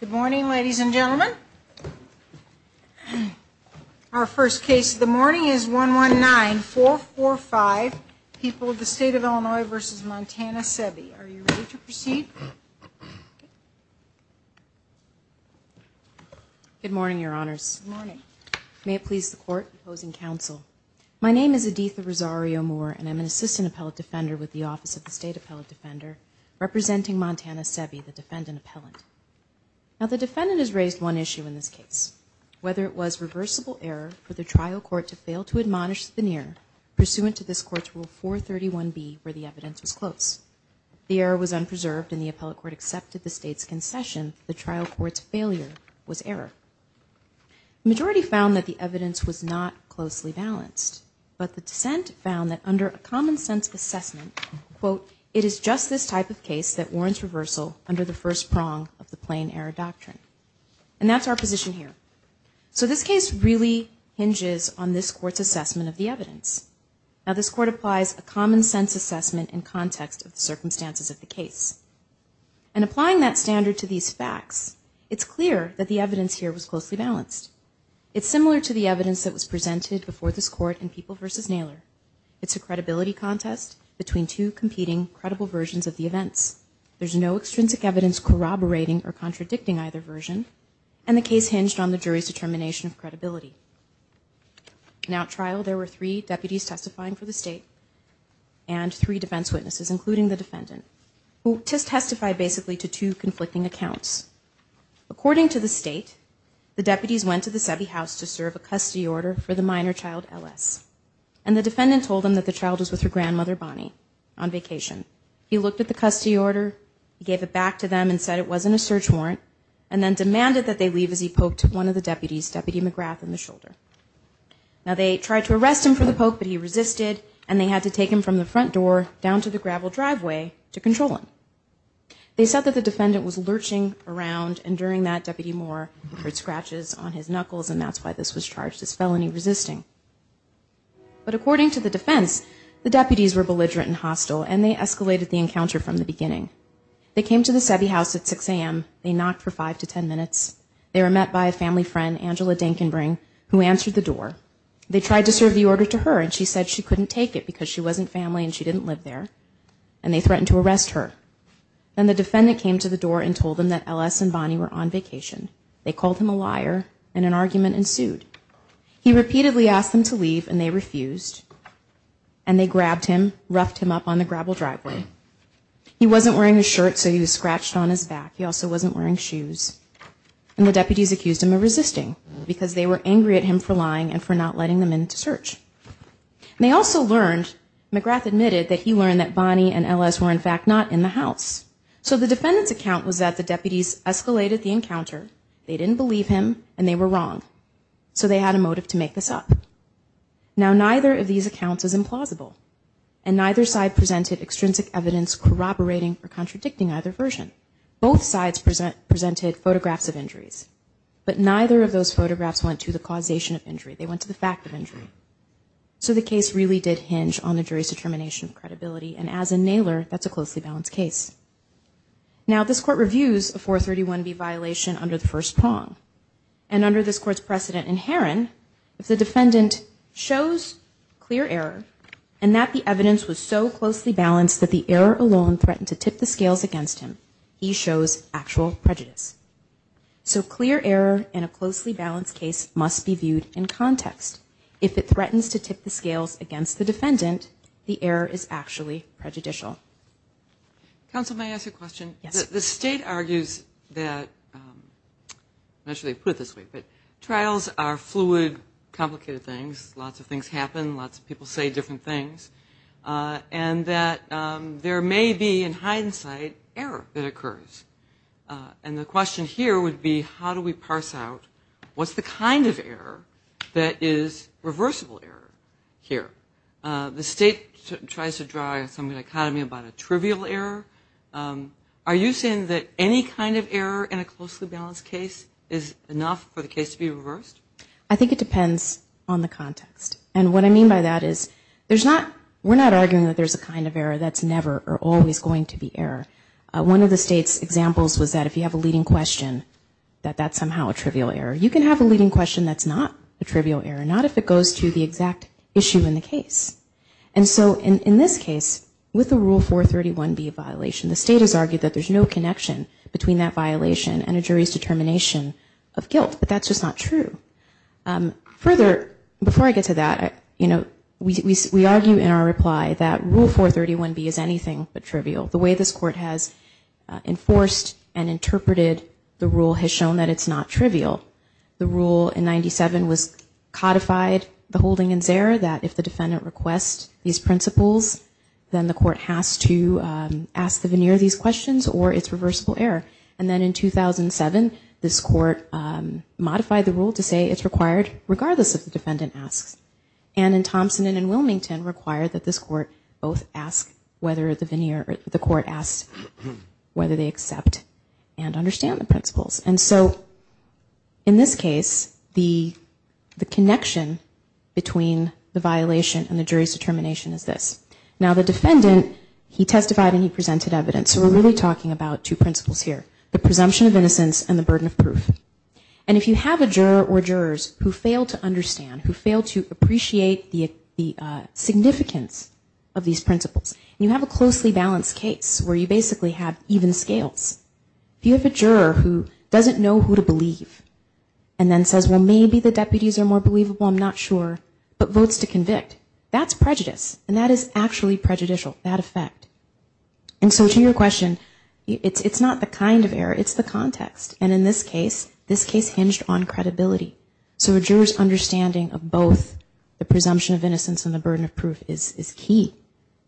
Good morning, ladies and gentlemen. Our first case of the morning is 119-445, People of the State of Illinois v. Montana-Sebby. Are you ready to proceed? Good morning, Your Honors. May it please the Court, opposing counsel. My name is Aditha Rosario-Moore, and I'm an Assistant Appellate Defender with the Office of the State Appellate Defender, representing Montana-Sebby, the defendant appellant. Now, the defendant has raised one issue in this case, whether it was reversible error for the trial court to fail to admonish the veneer pursuant to this court's Rule 431B, where the evidence was close. The error was unpreserved, and the appellate court accepted the state's concession. The trial court's failure was error. The majority found that the evidence was not closely balanced, but the dissent found that under a common-sense assessment, quote, it is just this type of case that warrants reversal under the first prong of the plain error doctrine. And that's our position here. So this case really hinges on this court's assessment of the evidence. Now, this court applies a common-sense assessment in context of the circumstances of the case. And applying that standard to these facts, it's clear that the evidence here was closely balanced. It's similar to the evidence that was presented before this court in People v. Naylor. It's a credibility contest between two competing credible versions of the events. There's no extrinsic evidence corroborating or contradicting either version, and the case hinged on the jury's determination of credibility. Now, at trial, there were three deputies testifying for the state and three defense witnesses, including the defendant, who testified basically to two conflicting accounts. According to the state, the deputies went to the Sebi House to serve a custody order for the minor child, Ellis. And the defendant told them that the child was with her grandmother, Bonnie, on vacation. He looked at the custody order, gave it back to them and said it wasn't a search warrant, and then demanded that they leave as he was a child. Now, they tried to arrest him for the poke, but he resisted, and they had to take him from the front door down to the gravel driveway to control him. They said that the defendant was lurching around, and during that, Deputy Moore heard scratches on his knuckles, and that's why this was charged as felony resisting. But according to the defense, the deputies were belligerent and hostile, and they escalated the encounter from the beginning. They came to the Sebi House at 6 a.m. They knocked for 5 to 10 minutes. They were met by a family friend, Angela Dinkenbring, who answered the door. They tried to serve the order to her, and she said she couldn't take it because she wasn't family and she didn't live there. And they threatened to arrest her. Then the defendant came to the door and told them that Ellis and Bonnie were on vacation. They called him a liar, and an argument ensued. He repeatedly asked them to leave, and they refused, and they grabbed him, roughed him up on the gravel driveway. He wasn't wearing a shirt, so he was scratched on his back. He also wasn't wearing shoes, and the deputies accused him of resisting because they were angry at him for lying and for not letting them in to search. They also learned, McGrath admitted, that he learned that Bonnie and Ellis were, in fact, not in the house. So the defendant's account was that the deputies escalated the encounter. They didn't believe him, and they were wrong. So they had a motive to make this up. Now, neither of these accounts is implausible, and neither side presented extrinsic evidence corroborating or contradicting either version. Both sides presented photographs of injuries, but neither of those photographs went to the causation of injury. They went to the fact of injury. So the case really did hinge on the jury's determination of credibility, and as a nailer, that's a closely balanced case. Now, this court reviews a 431B violation under the first prong, and under this court's precedent in Heron, if the defendant shows clear error, and that the evidence was so closely balanced that the error alone threatened to tip the scales against him, he shows actual prejudice. So clear error in a closely balanced case must be viewed in context. If it threatens to tip the scales against the defendant, the error is actually prejudicial. Counsel, may I ask a question? The state argues that trials are fluid, complicated things. Lots of things happen. Lots of people say different things, and that there may be, in hindsight, error that occurs. And the question here would be, how do we parse out what's the kind of error that is reversible error here? The state tries to draw some dichotomy about a trivial error. Are you saying that any kind of error in a closely balanced case is enough for the case to be reversed? I think it depends on the context, and what I mean by that is, we're not arguing that there's a kind of error that's never or always going to be error. One of the state's examples was that if you have a leading question, that that's somehow a trivial error. You can have a leading question that's not a trivial error, not if it goes to the exact issue in the case. And so in this case, with the Rule 431B violation, the state has argued that there's no connection between that violation and a jury's determination of guilt. But that's just not true. Further, before I get to that, we argue in our reply that Rule 431B is anything but trivial. The way this court has enforced and interpreted the rule has shown that it's not trivial. The rule in 97 was codified, the holding in Zare, that if the defendant requests these principles, then the court has to ask the veneer these questions or it's reversible error. And then in 2007, this court modified the rule to say it's required regardless of the defendant asks. And in Thompson and in Wilmington, required that this court both ask whether the veneer, the court asks whether they accept and understand the principles. And so in this case, the connection between the violation and the jury's determination is this. Now the defendant, he testified and he presented evidence. So we're really talking about two principles here, the presumption of innocence and the burden of proof. Appreciate the significance of these principles. And you have a closely balanced case where you basically have even scales. If you have a juror who doesn't know who to believe and then says, well, maybe the deputies are more believable, I'm not sure, but votes to convict, that's prejudice. And that is actually prejudicial, that effect. And so to your question, it's not the kind of error, it's the context. And in this case, this case hinged on credibility. So a juror's understanding of both the presumption of innocence and the burden of proof is key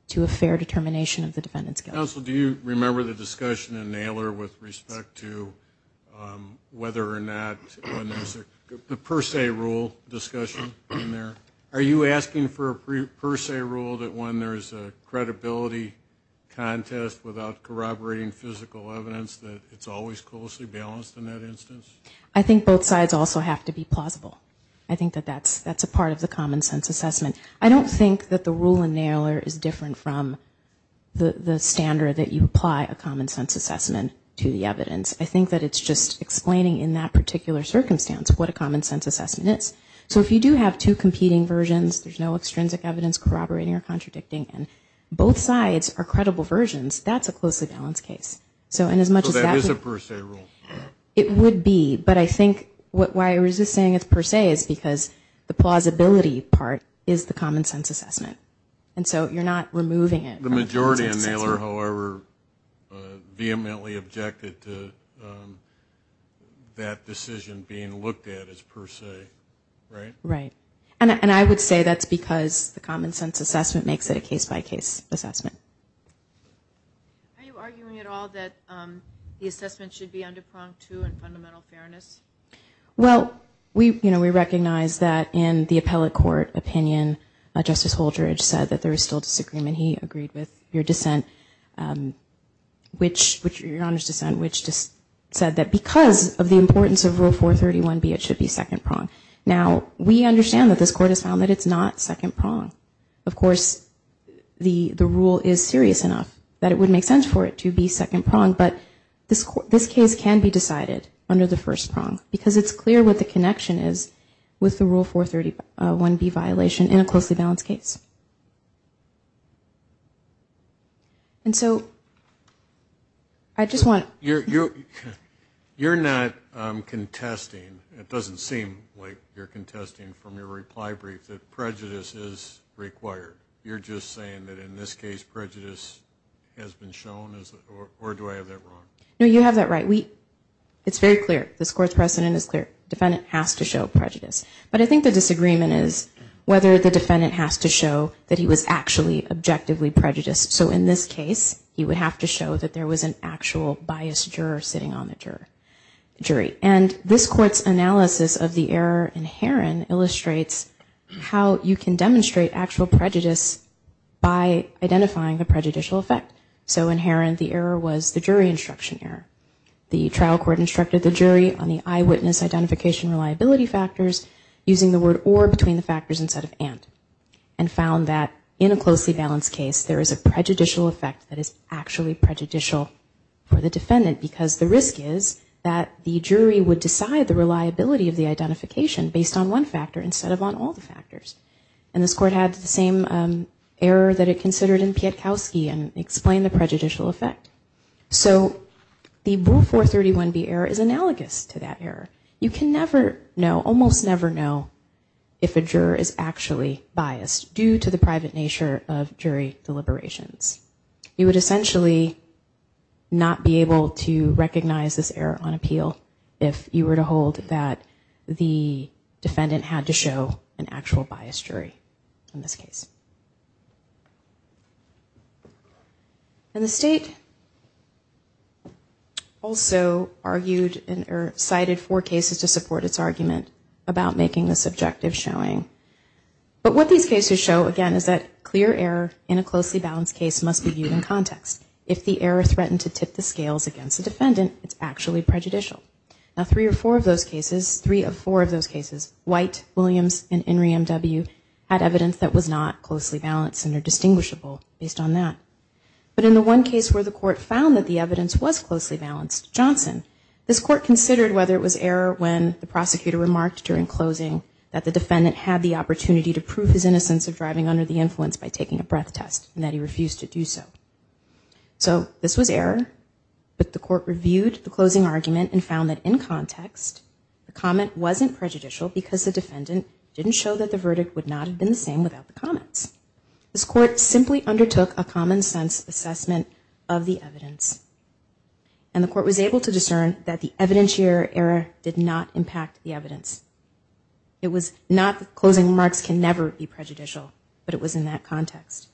to a fair determination of the defendant's guilt. Counsel, do you remember the discussion in Naylor with respect to whether or not the per se rule discussion in there? Are you asking for a per se rule that when there's a credibility contest without corroborating physical evidence, that it's always closely balanced in that instance? I think both sides also have to be plausible. I think that that's a part of the common sense assessment. I don't think that the rule in Naylor is different from the standard that you apply a common sense assessment to the evidence. I think that it's just explaining in that particular circumstance what a common sense assessment is. There's no contradicting versions, there's no extrinsic evidence corroborating or contradicting, and both sides are credible versions. That's a closely balanced case. So that is a per se rule. It would be, but I think why I resist saying it's per se is because the plausibility part is the common sense assessment. And so you're not removing it from the common sense assessment. Naylor, however, vehemently objected to that decision being looked at as per se, right? Right. And I would say that's because the common sense assessment makes it a case-by-case assessment. Are you arguing at all that the assessment should be under prong two and fundamental fairness? Well, we recognize that in the appellate court opinion, Justice Holdrege said that there is still disagreement. He agreed with your dissent. Your Honor's dissent, which just said that because of the importance of Rule 431B, it should be second prong. Now, we understand that this Court has found that it's not second prong. Of course, the rule is serious enough that it would make sense for it to be second prong, but this case can be decided under the first prong, because it's clear what the connection is with the Rule 431B violation in a closely balanced case. And so I just want... You're not contesting. It doesn't seem like you're contesting from your reply brief that prejudice is required. You're just saying that in this case prejudice has been shown, or do I have that wrong? No, you have that right. It's very clear. This Court's precedent is clear. The defendant has to show prejudice. But I think the disagreement is whether the defendant has to show that he was actually objectively prejudiced. So in this case, he would have to show that there was an actual biased juror sitting on the jury. And this Court's analysis of the error in Heron illustrates how you can demonstrate actual prejudice by identifying the prejudicial effect. So in Heron, the error was the jury instruction error. The trial court instructed the jury on the eyewitness identification reliability factors using the word or between the factors instead of and, and found that in a closely balanced case there is a prejudicial effect that is actually prejudicial for the defendant. Because the risk is that the jury would decide the reliability of the identification based on one factor instead of on all the factors. And this Court had the same error that it considered in Pietkowski and explained the prejudicial effect. So the Rule 431B error is analogous to that error. You can never know, almost never know, if a juror is actually biased due to the private nature of jury deliberations. You would essentially not be able to recognize this error on appeal if you were to hold that the defendant had to show an actual biased jury in this case. And the state also argued, or cited four cases where the defendant had to show an actual biased juror. And the state argued four cases to support its argument about making this objective showing. But what these cases show, again, is that clear error in a closely balanced case must be viewed in context. If the error threatened to tip the scales against the defendant, it's actually prejudicial. Now three or four of those cases, three of four of those cases, White, Williams, and Henry M.W. had evidence that was not closely balanced and are distinguishable based on that. But in the one case where the court found that the evidence was closely balanced, Johnson, this court considered whether it was error when the prosecutor remarked during closing that the defendant had the opportunity to prove his innocence of driving under the influence by taking a breath test and that he refused to do so. So this was error, but the court reviewed the closing argument and found that in context, the comment wasn't prejudicial because the defendant didn't show that the verdict would not have been the same without the comments. This court simply undertook a common sense assessment of the evidence. And the court was able to discern that the evidence here did not impact the evidence. It was not closing remarks can never be prejudicial, but it was in that context.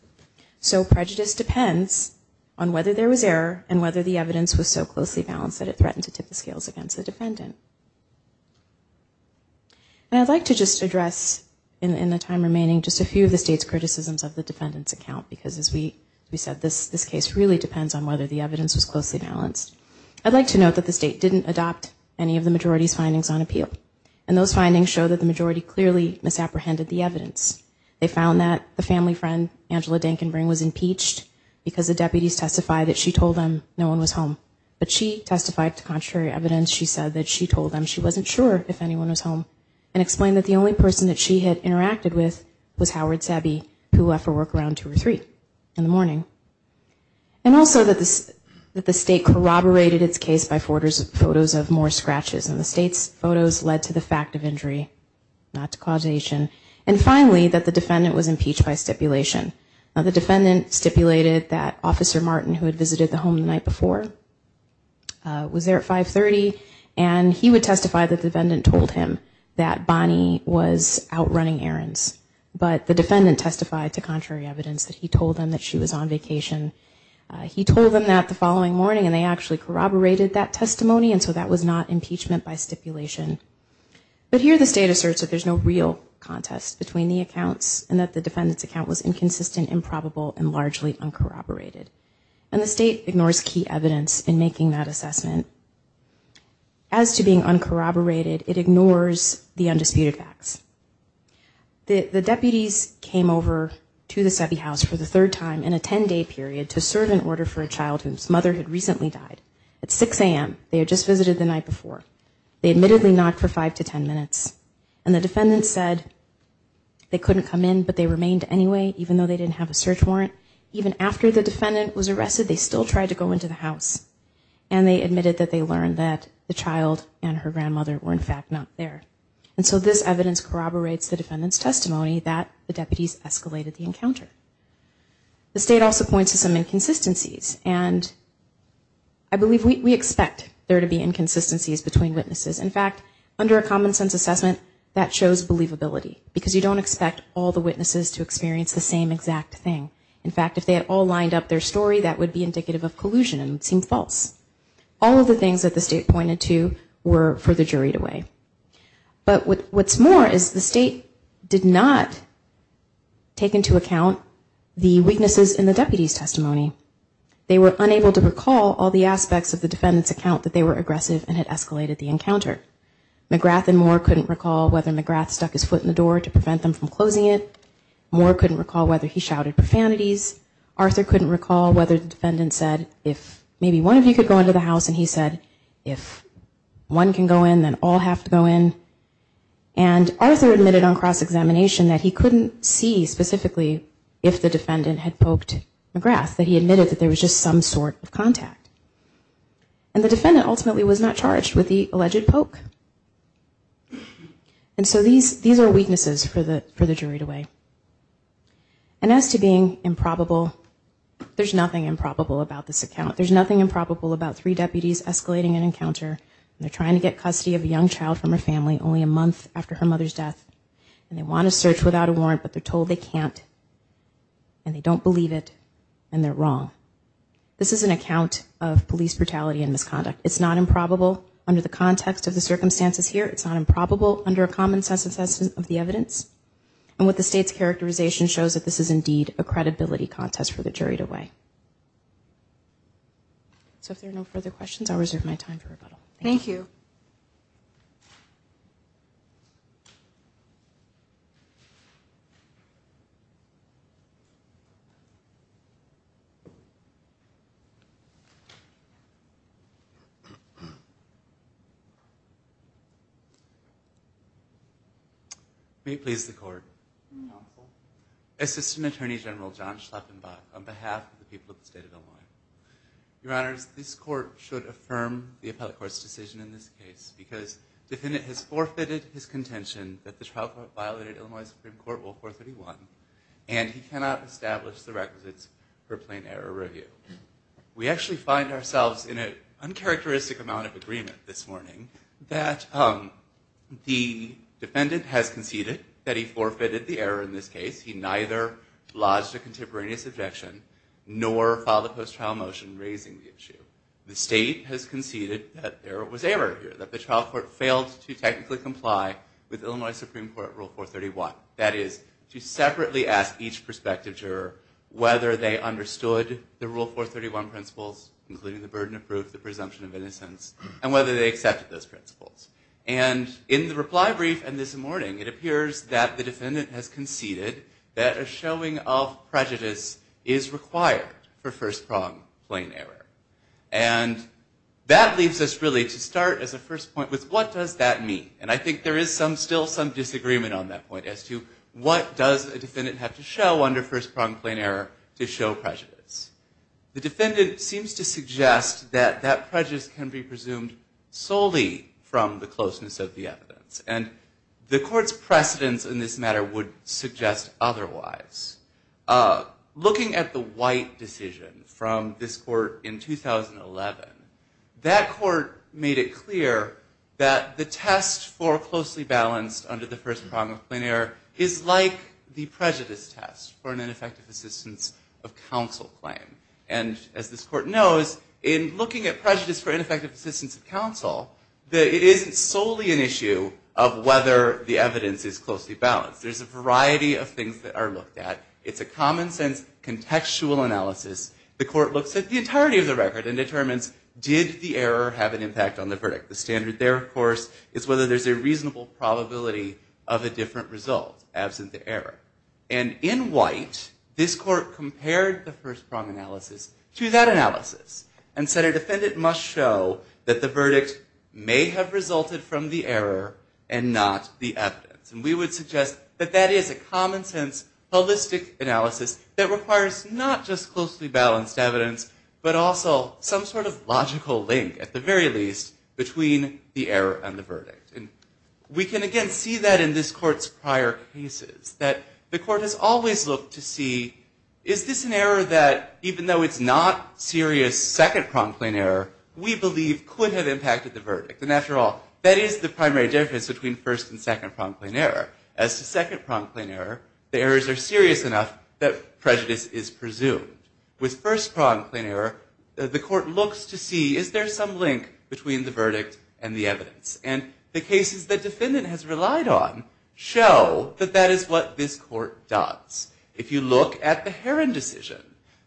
So prejudice depends on whether there was error and whether the evidence was so closely balanced that it threatened to tip the scales against the defendant. And I'd like to just address in the time remaining just a few of the state's criticisms of the defendant's account because as we said, this case really depends on whether the evidence was closely balanced. I'd like to note that the state didn't adopt any of the majority's findings on appeal. And those findings show that the majority clearly misapprehended the evidence. They found that the family friend, Angela Denkenbring, was impeached because the deputies testified that she told them no one was home. But she testified to contrary evidence. She said that she told them she wasn't sure if anyone was home and explained that the only person that she had interacted with was Howard Sabby, who left for work around 2 or 3 in the morning. And also that the state corroborated its case by photos of more scratches. And the state's photos led to the fact of injury, not to causation. And finally, that the defendant was impeached by stipulation. Now, the defendant stipulated that Officer Martin, who had visited the home the night before, was there at 530, and he would testify that the defendant told him that Bonnie was out running errands. But the defendant testified to contrary evidence that he told them that she was on vacation. He told them that the following morning, and they actually corroborated that testimony, and so that was not impeachment by stipulation. But here the state asserts that there's no real contest between the accounts, and that the defendant's account was inconsistent, improbable, and largely uncorroborated. And the state ignores key evidence in making that assessment. As to being uncorroborated, it ignores the undisputed facts. The deputies came over to the Seve House for the third time in a 10-day period to serve an order for a child whose mother had recently died. At 6 a.m., they had just visited the night before. They admittedly knocked for five to ten minutes, and the defendant said they couldn't come in, but they remained anyway, even though they didn't have a search warrant. Even after the defendant was arrested, they still tried to go into the house, and they admitted that they learned that the child and her grandmother were in fact not there. And so this evidence corroborates the defendant's testimony that the deputies escalated the encounter. The state also points to some inconsistencies, and I believe we expect there to be inconsistencies between witnesses. In fact, under a common-sense assessment, that shows believability, because you don't expect all the witnesses to experience the same exact thing. In fact, if they had all lined up their story, that would be indicative of collusion, and it would seem false. All of the things that the state pointed to were further juried away. But what's more is the state did not take into account the weaknesses in the deputies' testimony. They were unable to recall all the aspects of the defendant's account that they were aggressive and had escalated the encounter. McGrath and Moore couldn't recall whether McGrath stuck his foot in the door to prevent them from closing it. Moore couldn't recall whether he shouted profanities. Arthur couldn't recall whether the defendant said, if maybe one of you could go into the house, and he said, if one can go in, then all have to go in. And Arthur admitted on cross-examination that he couldn't see specifically if the defendant had poked McGrath, that he admitted that there was just some sort of contact. And the defendant ultimately was not charged with the alleged poke. And so these are weaknesses for the jury to weigh. And as to being improbable, there's nothing improbable about this account. It's not improbable under the context of the circumstances here. It's not improbable under a common sense assessment of the evidence. And what the state's characterization shows that this is indeed a credibility contest for the jury to weigh. So if there are no further questions, I'll reserve my time for rebuttal. Thank you. May it please the court. Assistant Attorney General John Schleppenbach on behalf of the people of the state of Illinois. Your Honors, this court should affirm the appellate court's decision in this case, because the defendant has forfeited his contention that the trial court violated Illinois Supreme Court Rule 431, and he cannot establish the requisites for plain error review. We actually find ourselves in an uncharacteristic amount of agreement this morning that the defendant has conceded that he forfeited the error in this case. He neither lodged a contemporaneous objection, nor filed a post-trial motion raising the issue. The state has conceded that there was error here, that the trial court failed to technically comply with Illinois Supreme Court Rule 431. That is, to separately ask each prospective juror whether they understood the Rule 431 principles, including the burden of proof, the presumption of innocence, and whether they accepted those principles. And in the reply brief and this morning, it appears that the defendant has conceded that a showing of prejudice is required for first-prong plain error. And that leaves us really to start as a first point with what does that mean? And I think there is still some disagreement on that point as to what does a defendant have to show under first-prong plain error to show prejudice. The defendant seems to suggest that that prejudice can be presumed solely from the closeness of the evidence. And the court's precedence in this matter would suggest otherwise. Looking at the White decision from this court in 2011, that court made it clear that the test for closely balanced under the first-prong plain error is like the prejudice test for an ineffective assistance of counsel claim. And as this court knows, in looking at prejudice for ineffective assistance of counsel, that it isn't solely an issue of whether the evidence is closely balanced. There's a variety of things that are looked at. It's a common-sense contextual analysis. The court looks at the entirety of the record and determines did the error have an impact on the verdict. The standard there, of course, is whether there's a reasonable probability of a different result, absent the error. And in White, this court compared the first-prong analysis to that analysis and said a defendant must show that the verdict may have resulted from the error and not the evidence. And we would suggest that that is a common-sense holistic analysis that requires not just closely balanced evidence, but also some sort of logical link, at the very least, between the error and the verdict. And we can, again, see that in this court's prior cases, that the court has always looked to see, is this an error that, even though it's not serious second-prong plain error, we believe could have impacted the verdict. And after all, that is the primary difference between first and second-prong plain error. As to second-prong plain error, the errors are serious enough that prejudice is presumed. With first-prong plain error, the court looks to see, is there some link between the verdict and the evidence? And the cases the defendant has relied on show that that is what this court does. If you look at the Heron decision,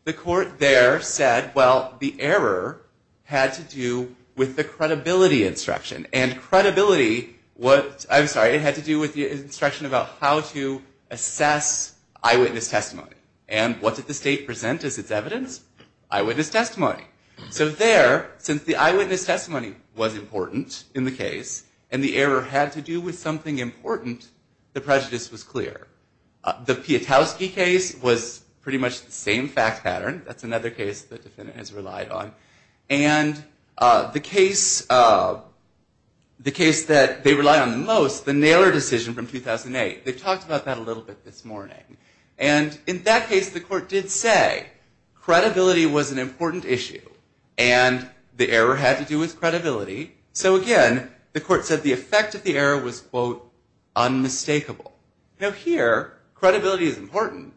the court there said, well, the error had to do with the credibility instruction. And credibility, I'm sorry, it had to do with the instruction about how to assess eyewitness testimony. And what did the state present as its evidence? Eyewitness testimony. So there, since the eyewitness testimony was important in the case, and the error had to do with something important, the prejudice was clear. The Pietowski case was pretty much the same fact pattern. That's another case the defendant has relied on. And the case that they relied on the most, the Naylor decision from 2008. They've talked about that a little bit this morning. And in that case, the court did say credibility was an important issue, and the error had to do with credibility. So again, the court said the effect of the error was, quote, unmistakable. Now here, credibility is important,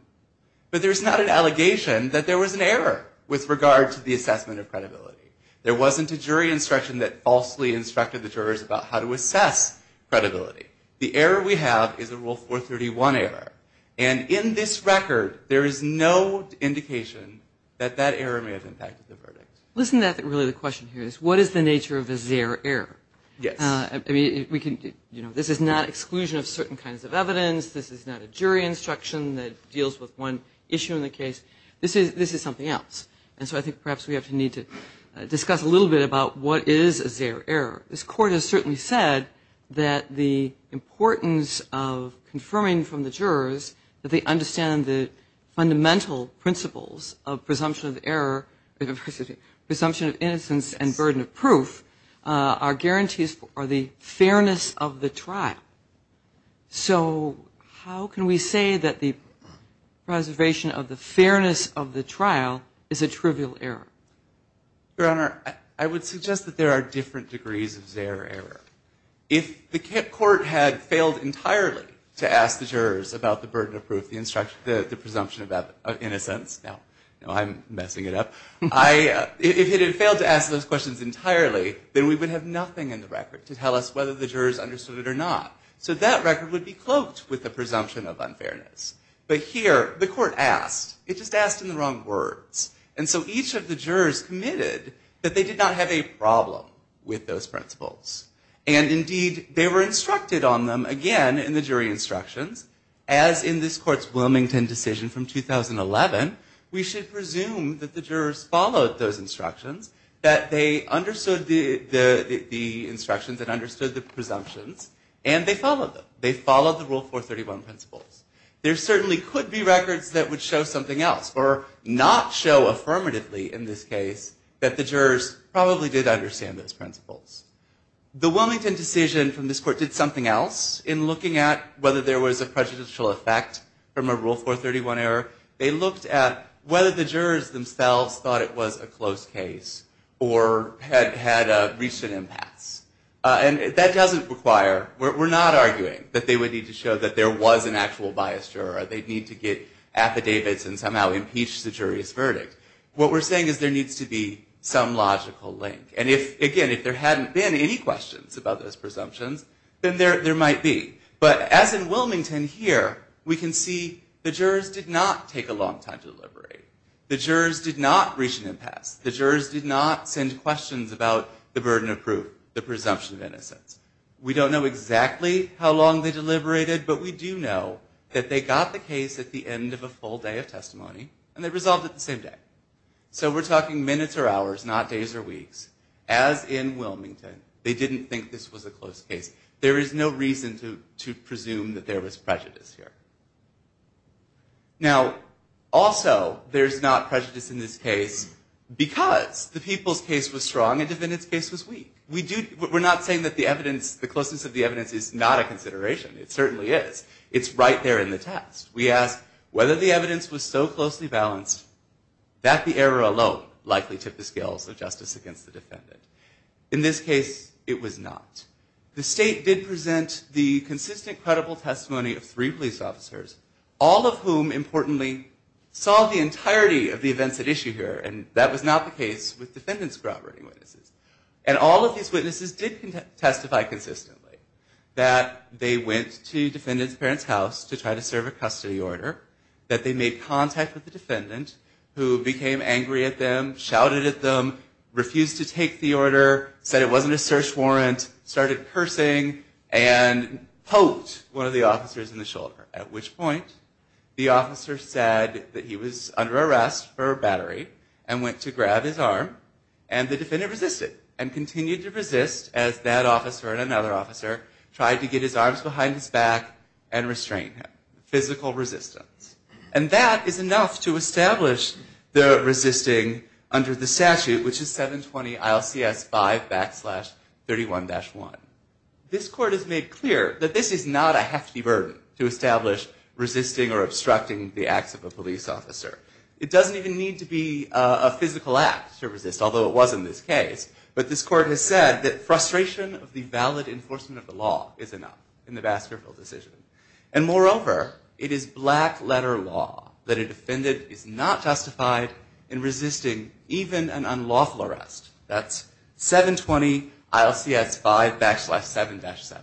but there's not an allegation that there was an error with regard to the assessment of credibility. There wasn't a jury instruction that falsely instructed the jurors about how to assess credibility. The error we have is a Rule 431 error. And in this record, there is no indication that that error may have impacted the verdict. Listen to that, really, the question here is, what is the nature of a ZEHR error? Yes. I mean, this is not exclusion of certain kinds of evidence. This is not a jury instruction that deals with one issue in the case. This is something else. And so I think perhaps we have to need to discuss a little bit about what is a ZEHR error. This court has certainly said that the importance of confirming from the jurors that they understand the fundamental principles of presumption of error, presumption of innocence and burden of proof are guarantees for the fairness of the trial. So how can we say that the preservation of the fairness of the trial is a trivial error? Your Honor, I would suggest that there are different degrees of ZEHR error. If the court had failed entirely to ask the jurors about the burden of proof, the presumption of innocence. Now, I'm messing it up. If it had failed to ask those questions entirely, then we would have nothing in the record to tell us whether the jurors understood it or not. So that record would be cloaked with the presumption of unfairness. But here, the court asked. It just asked in the wrong words. And so each of the jurors committed that they did not have a problem with those principles. And indeed, they were instructed on them again in the jury instructions. As in this court's Wilmington decision from 2011, we should presume that the jurors followed those instructions, that they understood the instructions and understood the presumptions, and they followed them. They followed the Rule 431 principles. There certainly could be records that would show something else or not show affirmatively in this case that the jurors probably did understand those principles. The Wilmington decision from this court did something else in looking at whether there was a prejudicial effect from a Rule 431 error. They looked at whether the jurors themselves thought it was a close case or had reached an impasse. And that doesn't require, we're not arguing that they would need to show that there was an actual biased juror. They'd need to get affidavits and somehow impeach the jury's verdict. What we're saying is there needs to be some logical link. And again, if there hadn't been any questions about those presumptions, then there might be. But as in Wilmington here, we can see the jurors did not take a long time to deliberate. The jurors did not reach an impasse. The jurors did not send questions about the burden of proof, the presumption of innocence. We don't know exactly how long they deliberated, but we do know that they got the case at the end of a full day of testimony, and they resolved it the same day. So we're talking minutes or hours, not days or weeks. As in Wilmington, they didn't think this was a close case. There is no reason to presume that there was prejudice here. Now, also, there's not prejudice in this case because the people's case was strong and the defendant's case was weak. We're not saying that the evidence, the closeness of the evidence is not a consideration. It certainly is. It's right there in the text. We ask whether the evidence was so closely balanced that the error alone likely tipped the scales of justice against the defendant. In this case, it was not. The state did present the consistent, credible testimony of three police officers, all of whom, importantly, saw the entirety of the events at issue here, and that was not the case with defendant's groundbreaking witnesses. And all of these witnesses did testify consistently that they went to the defendant's parents' house to try to serve a custody order, that they made contact with the defendant, who became angry at them, shouted at them, refused to take the order, said it wasn't a search warrant, started cursing, and poked one of the officers in the shoulder, at which point the officer said that he was under arrest for battery and went to grab his arm, and the defendant resisted and continued to resist as that officer and another officer tried to get his arms behind his back and restrain him. Physical resistance. And that is enough to establish the resisting under the statute, which is 720 ILCS 5 backslash 31-1. This court has made clear that this is not a hefty burden to establish resisting or obstructing the acts of a police officer. It doesn't even need to be a physical act to resist, although it was in this case. But this court has said that frustration of the valid enforcement of the law is enough in the Baskerville decision. And moreover, it is black letter law that a defendant is not justified in resisting even an unlawful arrest. That's 720 ILCS 5 backslash 7-7.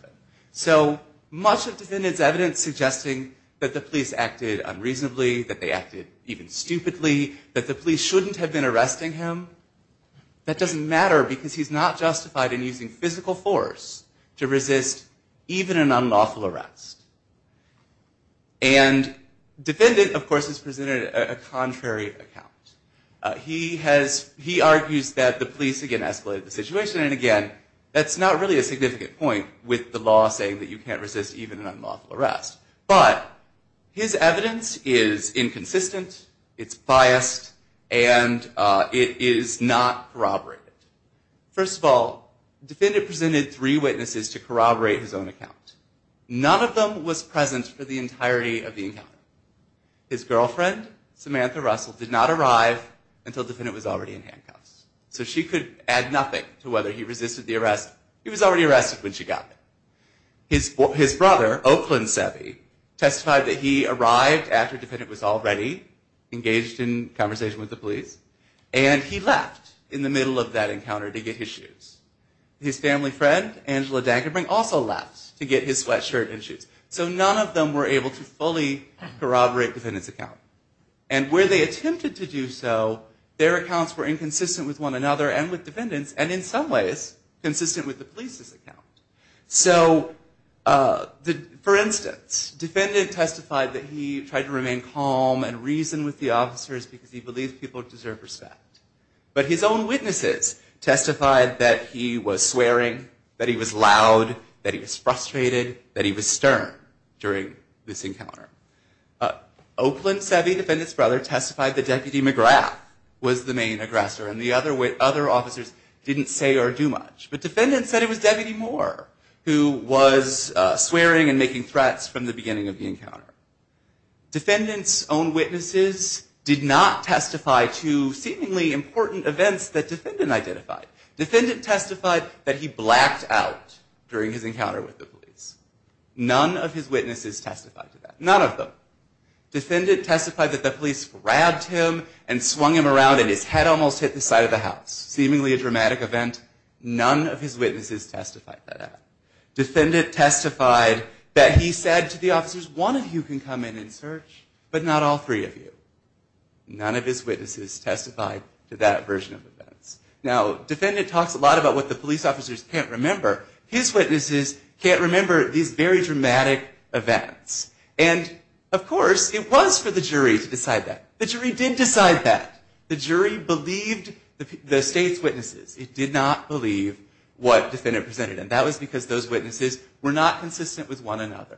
So much of the defendant's evidence suggesting that the police acted unreasonably, that they acted even stupidly, that the police shouldn't have been arresting him, that doesn't matter because he's not justified in using physical force to resist even an unlawful arrest. And defendant, of course, has presented a contrary account. He argues that the police, again, escalated the situation. And again, that's not really a significant point with the law saying that you can't resist even an unlawful arrest. But his evidence is inconsistent, it's biased, and it is not corroborated. First of all, the defendant presented three witnesses to corroborate his own account. None of them was present for the entirety of the encounter. His girlfriend, Samantha Russell, did not arrive until the defendant was already in handcuffs. So she could add nothing to whether he resisted the arrest. He was already arrested when she got there. His brother, Oakland Savvy, testified that he arrived after the defendant was already engaged in conversation with the police. And he left in the middle of that encounter to get his shoes. His family friend, Angela Dankenbrink, also left to get his sweatshirt and shoes. So none of them were able to fully corroborate the defendant's account. And where they attempted to do so, their accounts were inconsistent with one another and with defendants, and in some ways consistent with the police's account. For instance, the defendant testified that he tried to remain calm and reason with the officers because he believed people deserve respect. But his own witnesses testified that he was swearing, that he was loud, that he was frustrated, that he was stern during this encounter. Oakland Savvy, the defendant's brother, testified that Deputy McGrath was the main aggressor. And the other officers didn't say or do much. But defendants said it was Deputy Moore who was swearing and making threats from the beginning of the encounter. Defendant's own witnesses did not testify to seemingly important events that defendant identified. Defendant testified that he blacked out during his encounter with the police. None of his witnesses testified to that. None of them. Defendant testified that the police grabbed him and swung him around and his head almost hit the side of the house. Seemingly a dramatic event. None of his witnesses testified to that. Defendant testified that he said to the officers, one of you can come in and search, but not all three of you. None of his witnesses testified to that version of events. Now, defendant talks a lot about what the police officers can't remember. His witnesses can't remember these very dramatic events. And of course, it was for the jury to decide that. The jury did decide that. The jury believed the state's witnesses. It did not believe what defendant presented. And that was because those witnesses were not consistent with one another.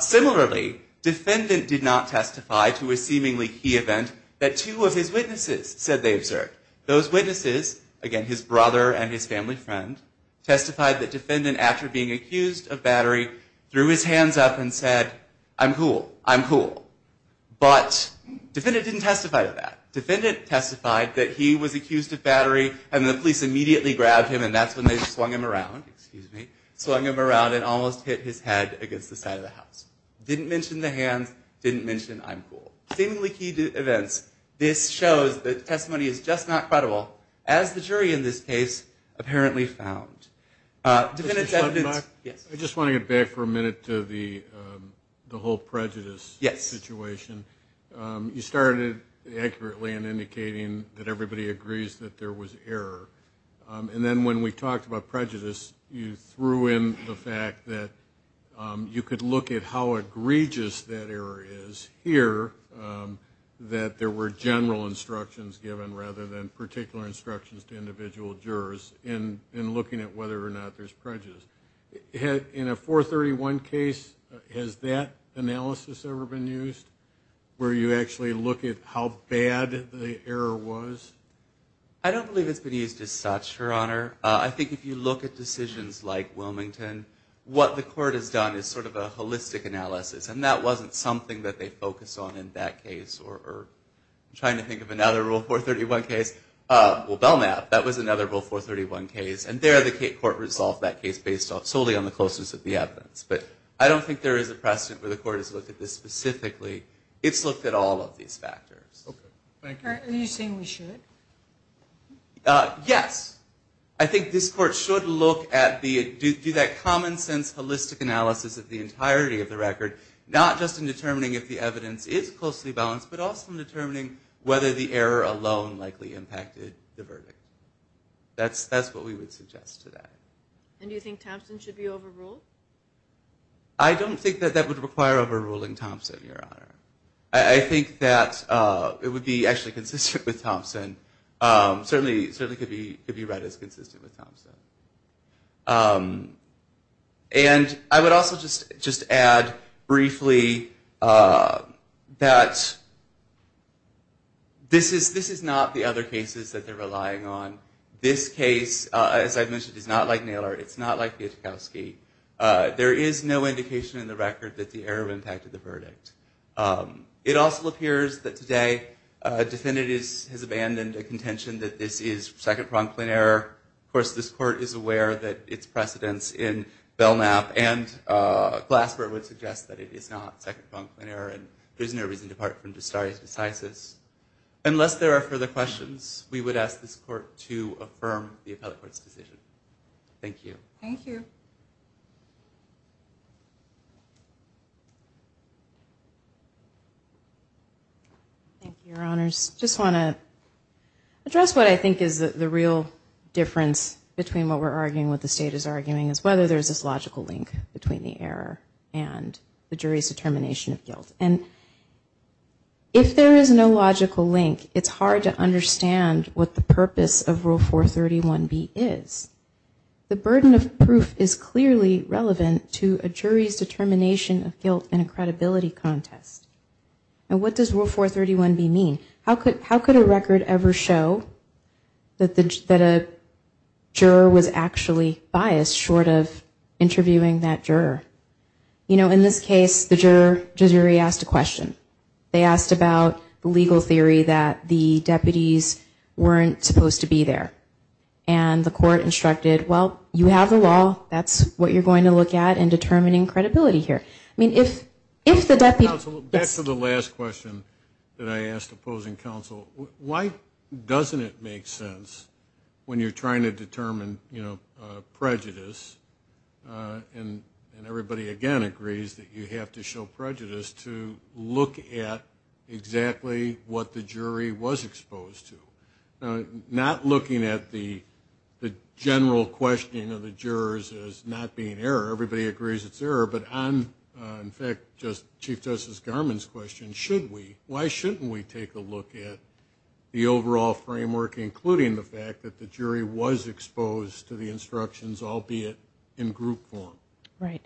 Similarly, defendant did not testify to a seemingly key event that two of his witnesses said they observed. Those witnesses, again, his brother and his family friend, testified that defendant, after being accused of battery, threw his hands up and said, I'm cool, I'm cool. But defendant didn't testify to that. Defendant testified that he was accused of battery and the police immediately grabbed him and that's when they swung him around. Swung him around and almost hit his head against the side of the house. Didn't mention the hands, didn't mention I'm cool. Seemingly key events. This shows that testimony is just not credible, as the jury in this case apparently found. I just want to get back for a minute to the whole prejudice situation. You started accurately in indicating that everybody agrees that there was error. And then when we talked about prejudice, you threw in the fact that you could look at how egregious that error is. And we didn't hear that there were general instructions given rather than particular instructions to individual jurors in looking at whether or not there's prejudice. In a 431 case, has that analysis ever been used, where you actually look at how bad the error was? I don't believe it's been used as such, Your Honor. I think if you look at decisions like Wilmington, what the court has done is sort of a holistic analysis. And that wasn't something that they focused on in that case or trying to think of another Rule 431 case. Well, Belknap, that was another Rule 431 case. And there the court resolved that case based solely on the closeness of the evidence. But I don't think there is a precedent where the court has looked at this specifically. It's looked at all of these factors. Are you saying we should? Yes. I think this court should do that common sense holistic analysis of the entirety of the record, not just in determining if the evidence is closely balanced, but also in determining whether the error alone likely impacted the verdict. That's what we would suggest to that. And do you think Thompson should be overruled? I don't think that that would require overruling Thompson, Your Honor. I think that it would be actually consistent with Thompson. Certainly could be read as consistent with Thompson. And I would also just add briefly that this is not the other cases that they're relying on. This case, as I've mentioned, is not like Naylor. It's not like Piotrkowski. There is no indication in the record that the error impacted the verdict. It also appears that today defendant has abandoned a contention that this is second-pronged plain error. Of course, this court is aware that its precedence in Belknap and Glasper would suggest that it is not second-pronged plain error. And there's no reason to depart from Dostari's decisis. Unless there are further questions, we would ask this court to affirm the appellate court's decision. Thank you. Thank you, Your Honors. I just want to address what I think is the real difference between what we're arguing and what the state is arguing, is whether there's this logical link between the error and the jury's determination of guilt. And if there is no logical link, it's hard to understand what the purpose of Rule 431B is. The burden of proof is clearly relevant to a jury's determination of guilt in a credibility contest. And what does Rule 431B mean? How could a record ever show that a juror was actually biased short of interviewing that juror? You know, in this case, the jury asked a question. They asked about the legal theory that the deputies weren't supposed to be there. And the court instructed, well, you have the law. That's what you're going to look at in determining credibility here. Back to the last question that I asked opposing counsel. Why doesn't it make sense when you're trying to determine prejudice, and everybody, again, agrees that you have to show prejudice, to look at exactly what the jury was exposed to? Now, not looking at the general questioning of the jurors as not being error. Everybody agrees it's error. But on, in fact, Chief Justice Garmon's question, why shouldn't we take a look at the overall framework, including the fact that the jury was exposed to the instructions, albeit in group form? Right.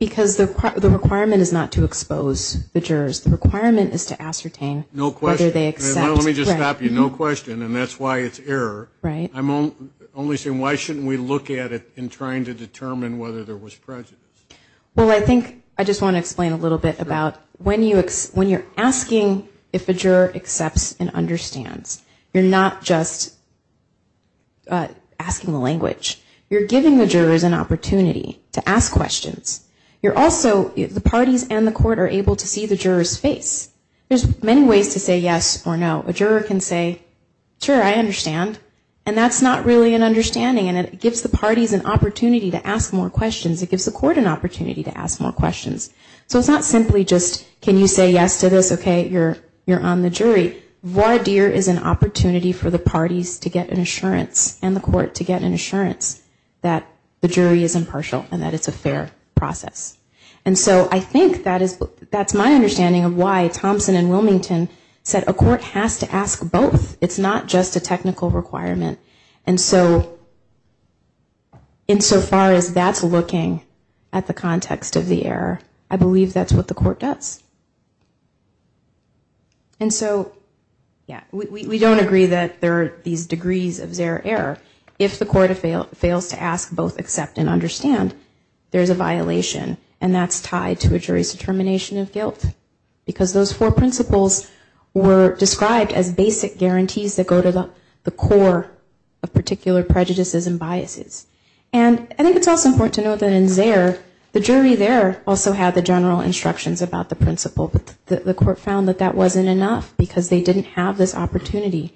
Because the requirement is not to expose the jurors. The requirement is to ascertain whether they accept. Let me just stop you. No question. And that's why it's error. I'm only saying, why shouldn't we look at it in trying to determine whether there was prejudice? Well, I think I just want to explain a little bit about when you're asking if a juror accepts and understands. You're not just asking the language. You're giving the jurors an opportunity to ask questions. You're also, the parties and the court are able to see the jurors' face. There's many ways to say yes or no. A juror can say, sure, I understand. And that's not really an understanding. And it gives the parties an opportunity to ask more questions. It gives the court an opportunity to ask more questions. So it's not simply just can you say yes to this, okay, you're on the jury. Vardir is an opportunity for the parties to get an assurance and the court to get an assurance that the jury is impartial and that it's a fair process. And so I think that's my understanding of why Thompson and Wilmington said a court has to ask both. It's not just a technical requirement. And so, insofar as that's looking at the context of the error, I believe that's what the court does. And so, yeah, we don't agree that there are these degrees of zero error. If the court fails to ask both accept and understand, there's a violation. And that's tied to a jury's determination of guilt. Because those four principles were described as basic guarantees that go to the core of particular prejudices and biases. And I think it's also important to note that in Zare, the jury there also had the general instructions about the principle. But the court found that that wasn't enough because they didn't have this opportunity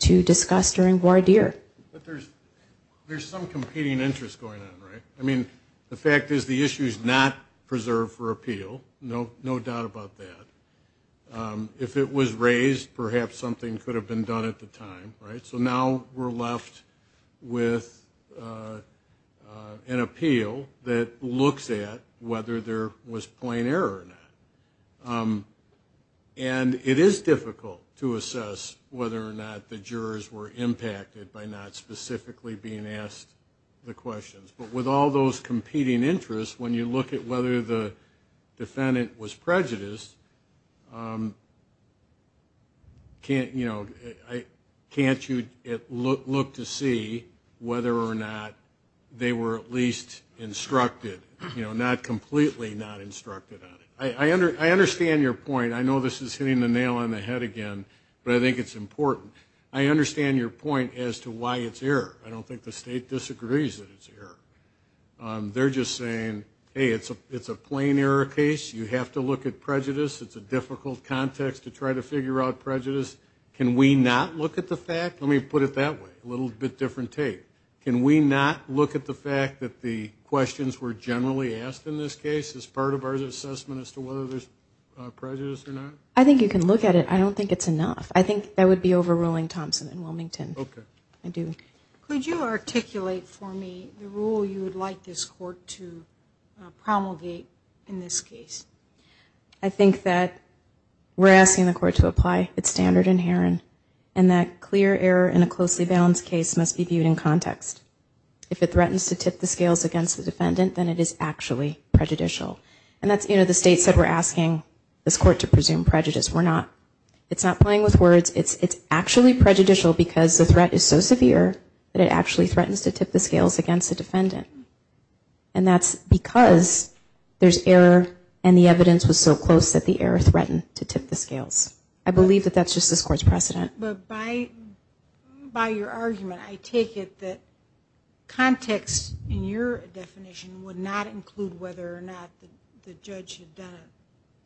to discuss during Vardir. But there's some competing interest going on, right? I mean, the fact is the issue is not preserved for appeal. No doubt about that. If it was raised, perhaps something could have been done at the time, right? So now we're left with an appeal that looks at whether there was plain error or not. And it is difficult to assess whether or not the jurors were impacted by not specifically being asked the questions. But with all those competing interests, when you look at whether the defendant was prejudiced, can't you look to see whether or not they were at least instructed, not completely not instructed on it? I understand your point. I know this is hitting the nail on the head again, but I think it's important. I understand your point as to why it's error. I don't think the state disagrees that it's error. They're just saying, hey, it's a plain error case. I think you can look at it. I don't think it's enough. I think that would be overruling Thompson and Wilmington. Could you articulate for me the rule you would like this court to promulgate in this case? I think that we're asking the court to apply its standard inherent, and that clear error in a closely balanced case must be viewed in context. Like I said, we're asking this court to presume prejudice. It's not playing with words. It's actually prejudicial because the threat is so severe that it actually threatens to tip the scales against the defendant. And that's because there's error and the evidence was so close that the error threatened to tip the scales. I believe that that's just this court's precedent. But by your argument, I take it that context in your definition would not include whether or not the judge had done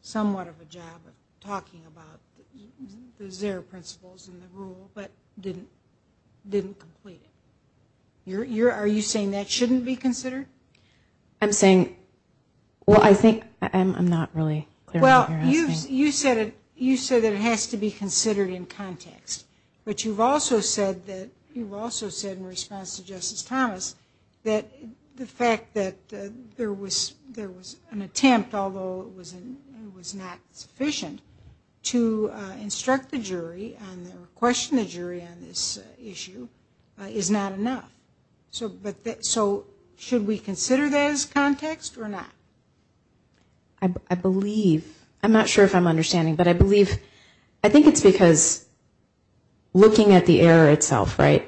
somewhat of a job of talking about the zero principles and the rule, but didn't complete it. Are you saying that shouldn't be considered? I'm not really clear on what you're asking. You said that it has to be considered in context, but you've also said in response to Justice Thomas that the fact that there was an attempt, although it was not sufficient, to instruct the jury and question the jury on this issue is not enough. So should we consider that as context or not? I believe, I'm not sure if I'm understanding, but I believe, I think it's because looking at the error itself, right?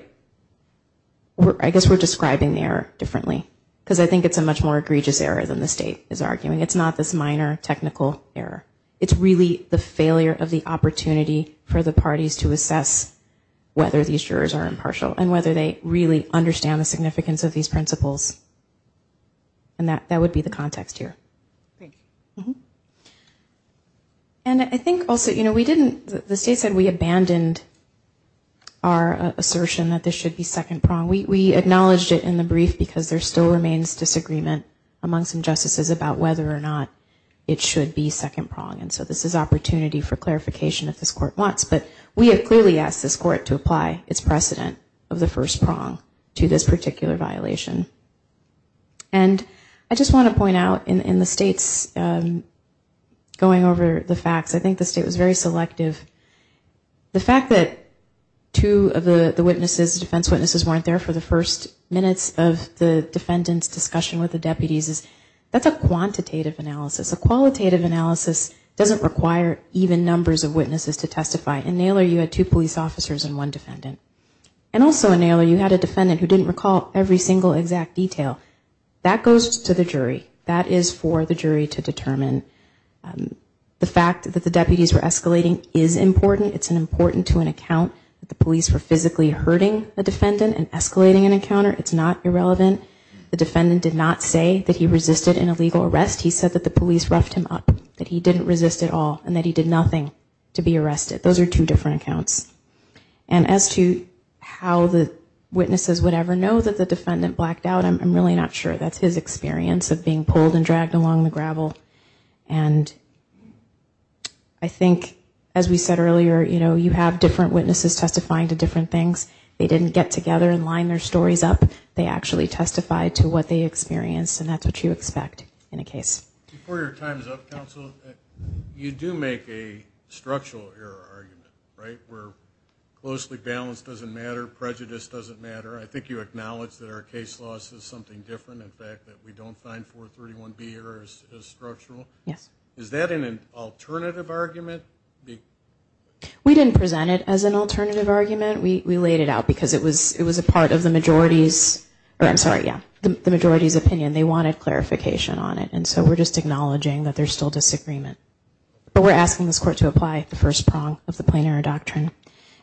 I guess we're describing the error differently because I think it's a much more egregious error than the state is arguing. It's not this minor technical error. It's really the failure of the opportunity for the parties to assess whether these jurors are impartial and whether they really understand the significance of these principles. And that would be the context here. And I think also we didn't, the state said we abandoned our assertion that this should be second prong. We acknowledged it in the brief because there still remains disagreement among some justices about whether or not it should be second prong. And so this is opportunity for clarification if this court wants. But we have clearly asked this court to apply its precedent of the first prong to this particular violation. And I just want to point out in the state's going over the facts, I think the state was very selective. The fact that two of the witnesses, defense witnesses, weren't there for the first minutes of the defendant's discussion with the deputies, that's a quantitative analysis. A qualitative analysis doesn't require even numbers of witnesses to testify. In Naylor you had two police officers and one defendant. And also in Naylor you had a defendant who didn't recall every single exact detail. That goes to the jury. That is for the jury to determine. The fact that the deputies were escalating is important. It's important to an account that the police were physically hurting the defendant and escalating an encounter. It's not irrelevant. The defendant did not say that he resisted an illegal arrest. He said that the police roughed him up, that he didn't resist at all, and that he did nothing to be arrested. Those are two different accounts. And as to how the witnesses would ever know that the defendant blacked out, I'm really not sure. That's his experience of being pulled and dragged along the gravel. And I think as we said earlier, you have different witnesses testifying to different things. They didn't get together and line their stories up. They actually testified to what they experienced, and that's what you expect in a case. Before your time is up, counsel, you do make a structural error argument, right? Where closely balanced doesn't matter, prejudice doesn't matter. I think you acknowledge that our case loss is something different. In fact, that we don't find 431B errors as structural. Is that an alternative argument? We didn't present it as an alternative argument. We laid it out because it was a part of the majority's opinion. They wanted clarification on it, and so we're just acknowledging that there's still disagreement. But we're asking this court to apply the first prong of the plain error doctrine.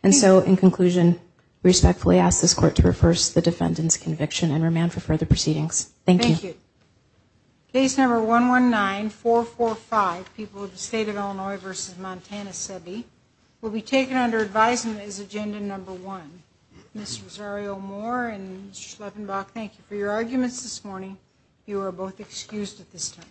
And so in conclusion, we respectfully ask this court to reverse the defendant's conviction and remand for further proceedings. Thank you. Case number 119445, people of the State of Illinois v. Montana Sebi, will be taken under advisement as agenda number one. Ms. Rosario Moore and Mr. Schleppenbach, thank you for your arguments this morning. You are both excused at this time.